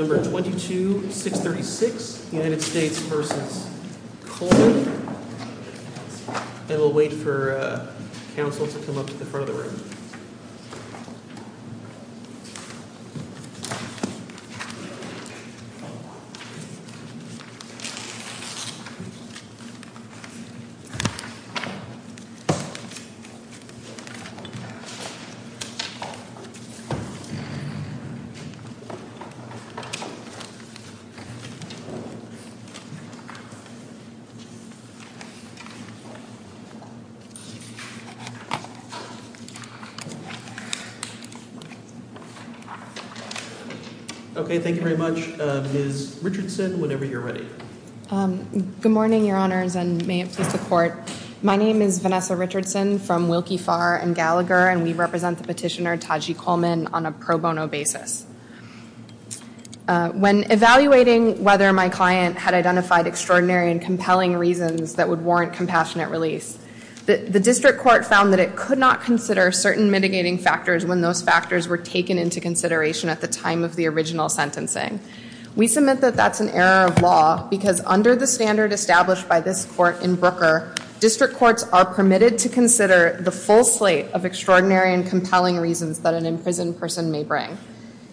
I will wait for counsel to come up to the front of the room. Okay, thank you very much. Ms. Richardson, whenever you're ready. Good morning, Your Honors, and may it please the Court. My name is Vanessa Richardson from Wilkie, Farr, and Gallagher, and we represent the petitioner Taji Coleman on a pro bono basis. When evaluating whether my client had identified extraordinary and compelling reasons that would warrant compassionate release, the district court found that it could not consider certain mitigating factors when those factors were taken into consideration at the time of the original sentencing. We submit that that's an error of law because under the standard established by this court in Brooker, district courts are permitted to consider the full slate of extraordinary and compelling reasons that an imprisoned person may bring.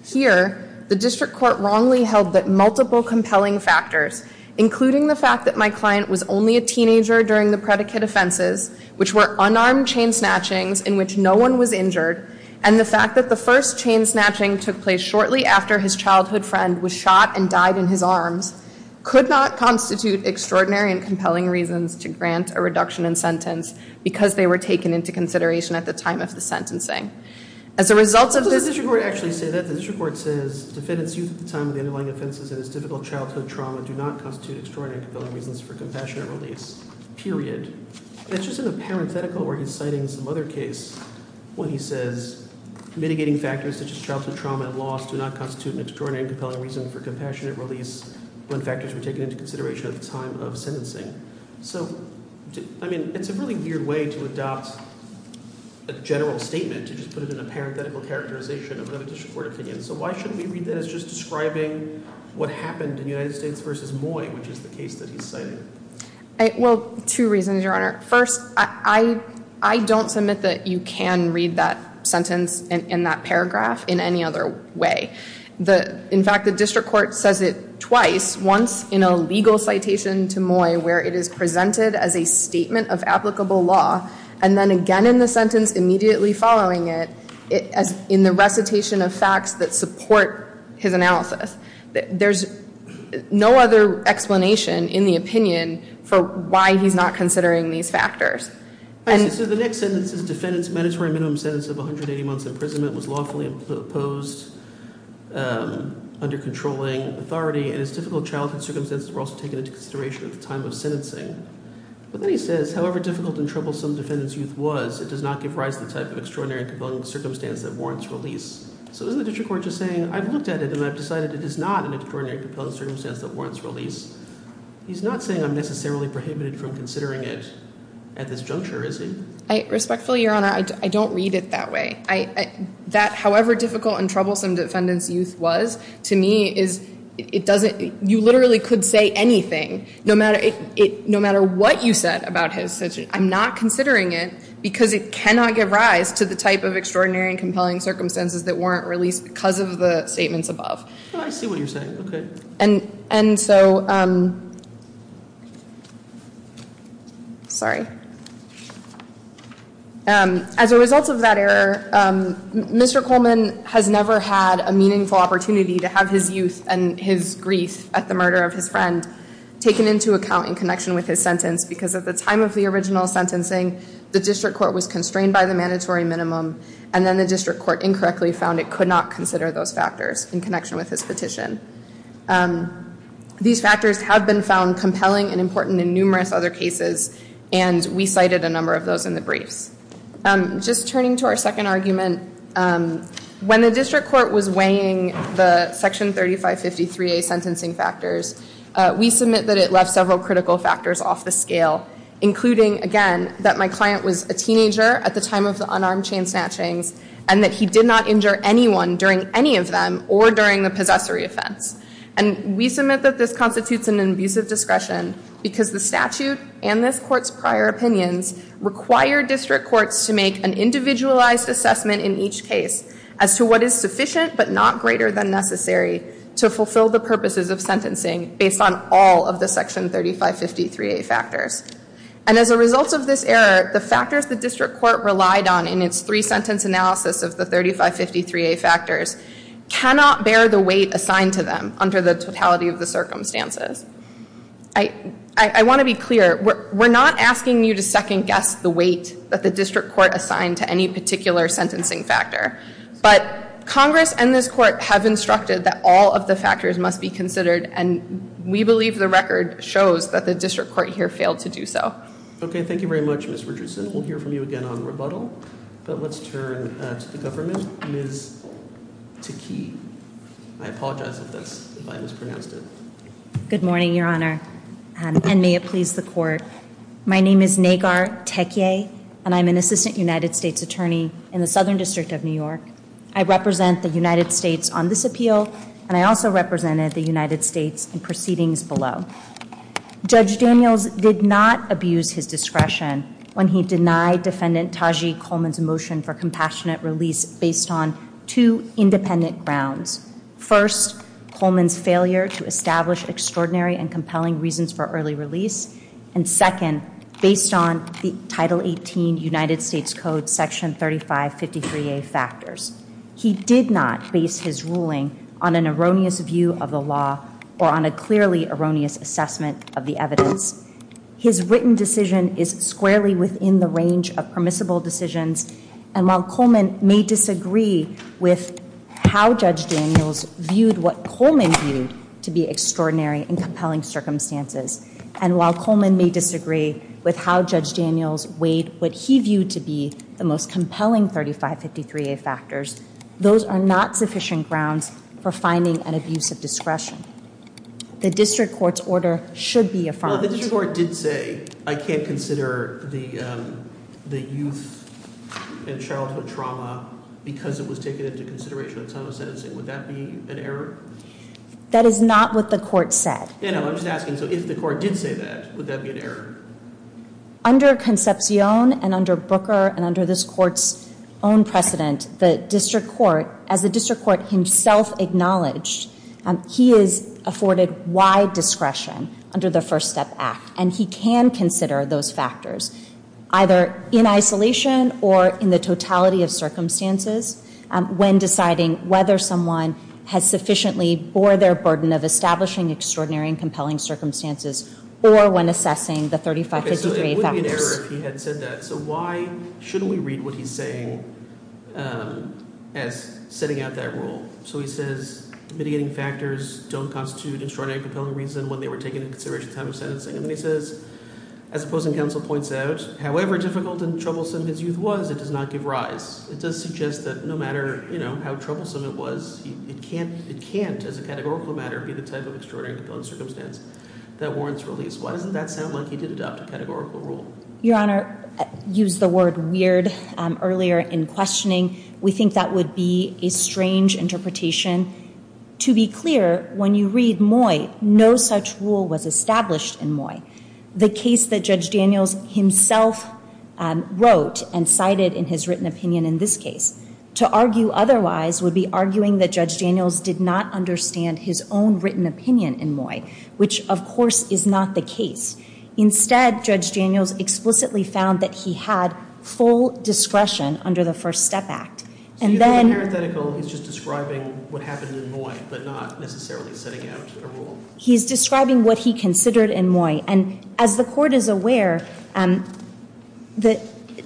Here, the district court wrongly held that multiple compelling factors, including the fact that my client was only a teenager during the predicate offenses, which were unarmed chain snatchings in which no one was injured, and the fact that the first chain snatching took place shortly after his childhood friend was shot and died in his arms, could not constitute extraordinary and compelling reasons to grant a reduction in sentence because they were taken into consideration at the time of the sentencing. As a result of this- Did the district court actually say that? The district court says defendants used at the time of the underlying offenses in his difficult childhood trauma do not constitute extraordinary and compelling reasons for compassionate release, period. It's just in the parenthetical where he's citing some other case when he says mitigating factors such as childhood trauma and loss do not constitute an extraordinary and compelling reason for compassionate release when factors were taken into consideration at the time of sentencing. So, I mean, it's a really weird way to adopt a general statement to just put it in a parenthetical characterization of another district court opinion. So why shouldn't we read that as just describing what happened in the United States versus Moy, which is the case that he's citing? Well, two reasons, Your Honor. First, I don't submit that you can read that sentence in that paragraph in any other way. In fact, the district court says it twice, once in a legal citation to Moy where it is presented as a statement of applicable law and then again in the sentence immediately following it in the recitation of facts that support his analysis. There's no other explanation in the opinion for why he's not considering these factors. So the next sentence is defendant's mandatory minimum sentence of 180 months imprisonment was lawfully imposed under controlling authority and his difficult childhood circumstances were also taken into consideration at the time of sentencing. But then he says, however difficult and troublesome the defendant's youth was, it does not give rise to the type of extraordinary and compelling circumstance that warrants release. So isn't the district court just saying I've looked at it and I've decided it is not an extraordinary and compelling circumstance that warrants release? He's not saying I'm necessarily prohibited from considering it at this juncture, is he? Respectfully, Your Honor, I don't read it that way. That however difficult and troublesome defendant's youth was to me is it doesn't – you literally could say anything no matter what you said about his sentence. I'm not considering it because it cannot give rise to the type of extraordinary and compelling circumstances that warrant release because of the statements above. I see what you're saying. Okay. And so – sorry. As a result of that error, Mr. Coleman has never had a meaningful opportunity to have his youth and his grief at the murder of his friend taken into account in connection with his sentence because at the time of the original sentencing, the district court was constrained by the mandatory minimum and then the district court incorrectly found it could not consider those factors in connection with his petition. These factors have been found compelling and important in numerous other cases and we cited a number of those in the briefs. Just turning to our second argument, when the district court was weighing the Section 3553A sentencing factors, we submit that it left several critical factors off the scale, including, again, that my client was a teenager at the time of the unarmed chain snatchings and that he did not injure anyone during any of them or during the possessory offense. And we submit that this constitutes an abusive discretion because the statute and this court's prior opinions require district courts to make an individualized assessment in each case as to what is sufficient but not greater than necessary to fulfill the purposes of sentencing based on all of the Section 3553A factors. And as a result of this error, the factors the district court relied on in its three-sentence analysis of the 3553A factors cannot bear the weight assigned to them under the totality of the circumstances. I want to be clear. We're not asking you to second-guess the weight that the district court assigned to any particular sentencing factor. But Congress and this court have instructed that all of the factors must be considered, and we believe the record shows that the district court here failed to do so. Okay, thank you very much, Ms. Richardson. We'll hear from you again on rebuttal. But let's turn to the government. Ms. Takei. I apologize if I mispronounced it. Good morning, Your Honor, and may it please the court. My name is Nagar Takei, and I'm an assistant United States attorney in the Southern District of New York. I represent the United States on this appeal, and I also represented the United States in proceedings below. Judge Daniels did not abuse his discretion when he denied Defendant Tajji Coleman's motion for compassionate release based on two independent grounds. First, Coleman's failure to establish extraordinary and compelling reasons for early release, and second, based on the Title 18 United States Code Section 3553A factors. He did not base his ruling on an erroneous view of the law or on a clearly erroneous assessment of the evidence. His written decision is squarely within the range of permissible decisions, and while Coleman may disagree with how Judge Daniels viewed what Coleman viewed to be extraordinary and compelling circumstances, and while Coleman may disagree with how Judge Daniels weighed what he viewed to be the most compelling 3553A factors, those are not sufficient grounds for finding an abuse of discretion. The district court's order should be affirmed. Well, the district court did say, I can't consider the youth and childhood trauma because it was taken into consideration in some of the sentencing. Would that be an error? That is not what the court said. Yeah, no, I'm just asking. So if the court did say that, would that be an error? Under Concepcion and under Booker and under this court's own precedent, the district court, as the district court himself acknowledged, he is afforded wide discretion under the First Step Act, and he can consider those factors either in isolation or in the totality of circumstances when deciding whether someone has sufficiently bore their burden of establishing extraordinary and compelling circumstances or when assessing the 3553A factors. Okay, so it would be an error if he had said that. So why shouldn't we read what he's saying as setting out that rule? So he says mitigating factors don't constitute extraordinary and compelling reason when they were taken into consideration in time of sentencing. And then he says, as opposing counsel points out, however difficult and troublesome his youth was, it does not give rise. It does suggest that no matter how troublesome it was, it can't, as a categorical matter, be the type of extraordinary and compelling circumstance that warrants release. Why doesn't that sound like he did adopt a categorical rule? Your Honor, I used the word weird earlier in questioning. We think that would be a strange interpretation. To be clear, when you read Moy, no such rule was established in Moy. The case that Judge Daniels himself wrote and cited in his written opinion in this case. To argue otherwise would be arguing that Judge Daniels did not understand his own written opinion in Moy, which, of course, is not the case. Instead, Judge Daniels explicitly found that he had full discretion under the First Step Act. So you think the parenthetical is just describing what happened in Moy but not necessarily setting out a rule? He's describing what he considered in Moy. And as the Court is aware, the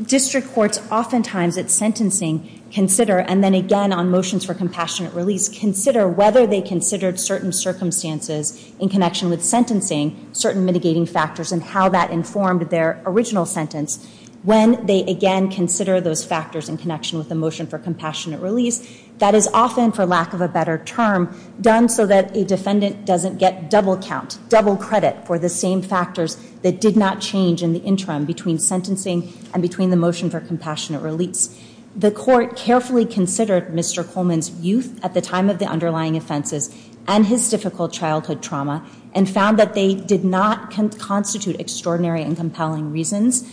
district courts oftentimes at sentencing consider, and then again on motions for compassionate release, consider whether they considered certain circumstances in connection with sentencing, certain mitigating factors and how that informed their original sentence. When they again consider those factors in connection with the motion for compassionate release, that is often, for lack of a better term, done so that a defendant doesn't get double count, double credit for the same factors that did not change in the interim between sentencing and between the motion for compassionate release. The Court carefully considered Mr. Coleman's youth at the time of the underlying offenses and his difficult childhood trauma and found that they did not constitute extraordinary and compelling reasons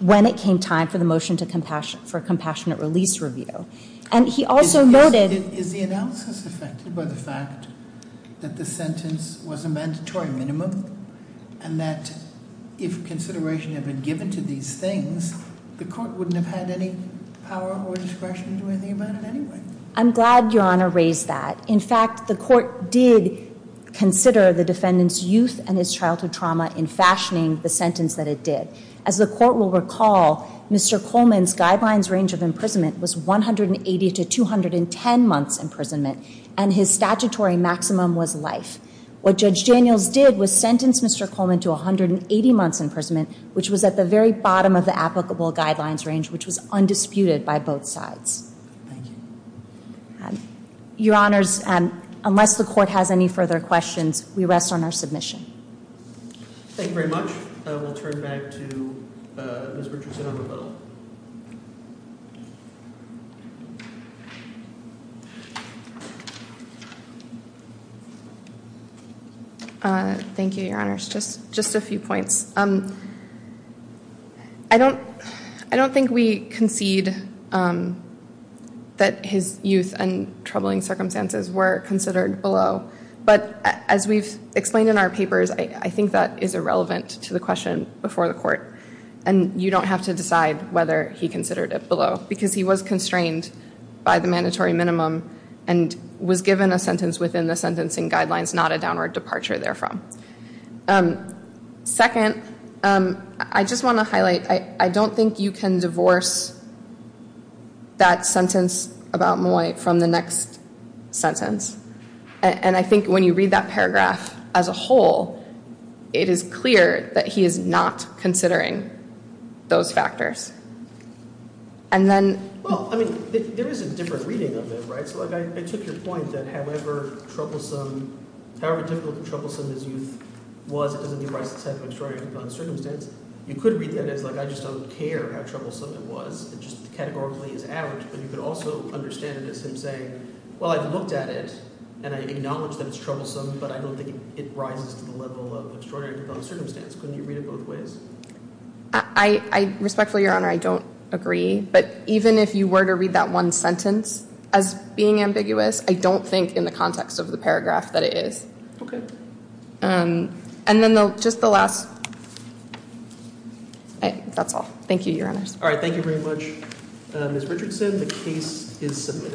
when it came time for the motion for compassionate release review. And he also noted- Is the analysis affected by the fact that the sentence was a mandatory minimum and that if consideration had been given to these things, the Court wouldn't have had any power or discretion to do anything about it anyway? I'm glad Your Honor raised that. In fact, the Court did consider the defendant's youth and his childhood trauma in fashioning the sentence that it did. As the Court will recall, Mr. Coleman's guidelines range of imprisonment was 180 to 210 months' imprisonment and his statutory maximum was life. What Judge Daniels did was sentence Mr. Coleman to 180 months' imprisonment, which was at the very bottom of the applicable guidelines range, which was undisputed by both sides. Thank you. Your Honors, unless the Court has any further questions, we rest on our submission. Thank you very much. We'll turn back to Ms. Richardson on the bill. Thank you, Your Honors. Just a few points. I don't think we concede that his youth and troubling circumstances were considered below. But as we've explained in our papers, I think that is irrelevant to the question before the Court. And you don't have to decide whether he considered it below, because he was constrained by the mandatory minimum and was given a sentence within the sentencing guidelines, not a downward departure therefrom. Second, I just want to highlight, I don't think you can divorce that sentence about Moy from the next sentence. And I think when you read that paragraph as a whole, it is clear that he is not considering those factors. And then — Well, I mean, there is a different reading of it, right? So, like, I took your point that however troublesome, however difficult and troublesome his youth was, it doesn't give rise to the type of extraordinary conduct and circumstance. You could read that as, like, I just don't care how troublesome it was. It just categorically is average. But you could also understand it as him saying, well, I've looked at it, and I acknowledge that it's troublesome, but I don't think it rises to the level of extraordinary conduct and circumstance. Couldn't you read it both ways? I respectfully, Your Honor, I don't agree. But even if you were to read that one sentence as being ambiguous, I don't think in the context of the paragraph that it is. Okay. And then just the last — that's all. Thank you, Your Honors. All right. Thank you very much. Ms. Richardson, the case is submitted.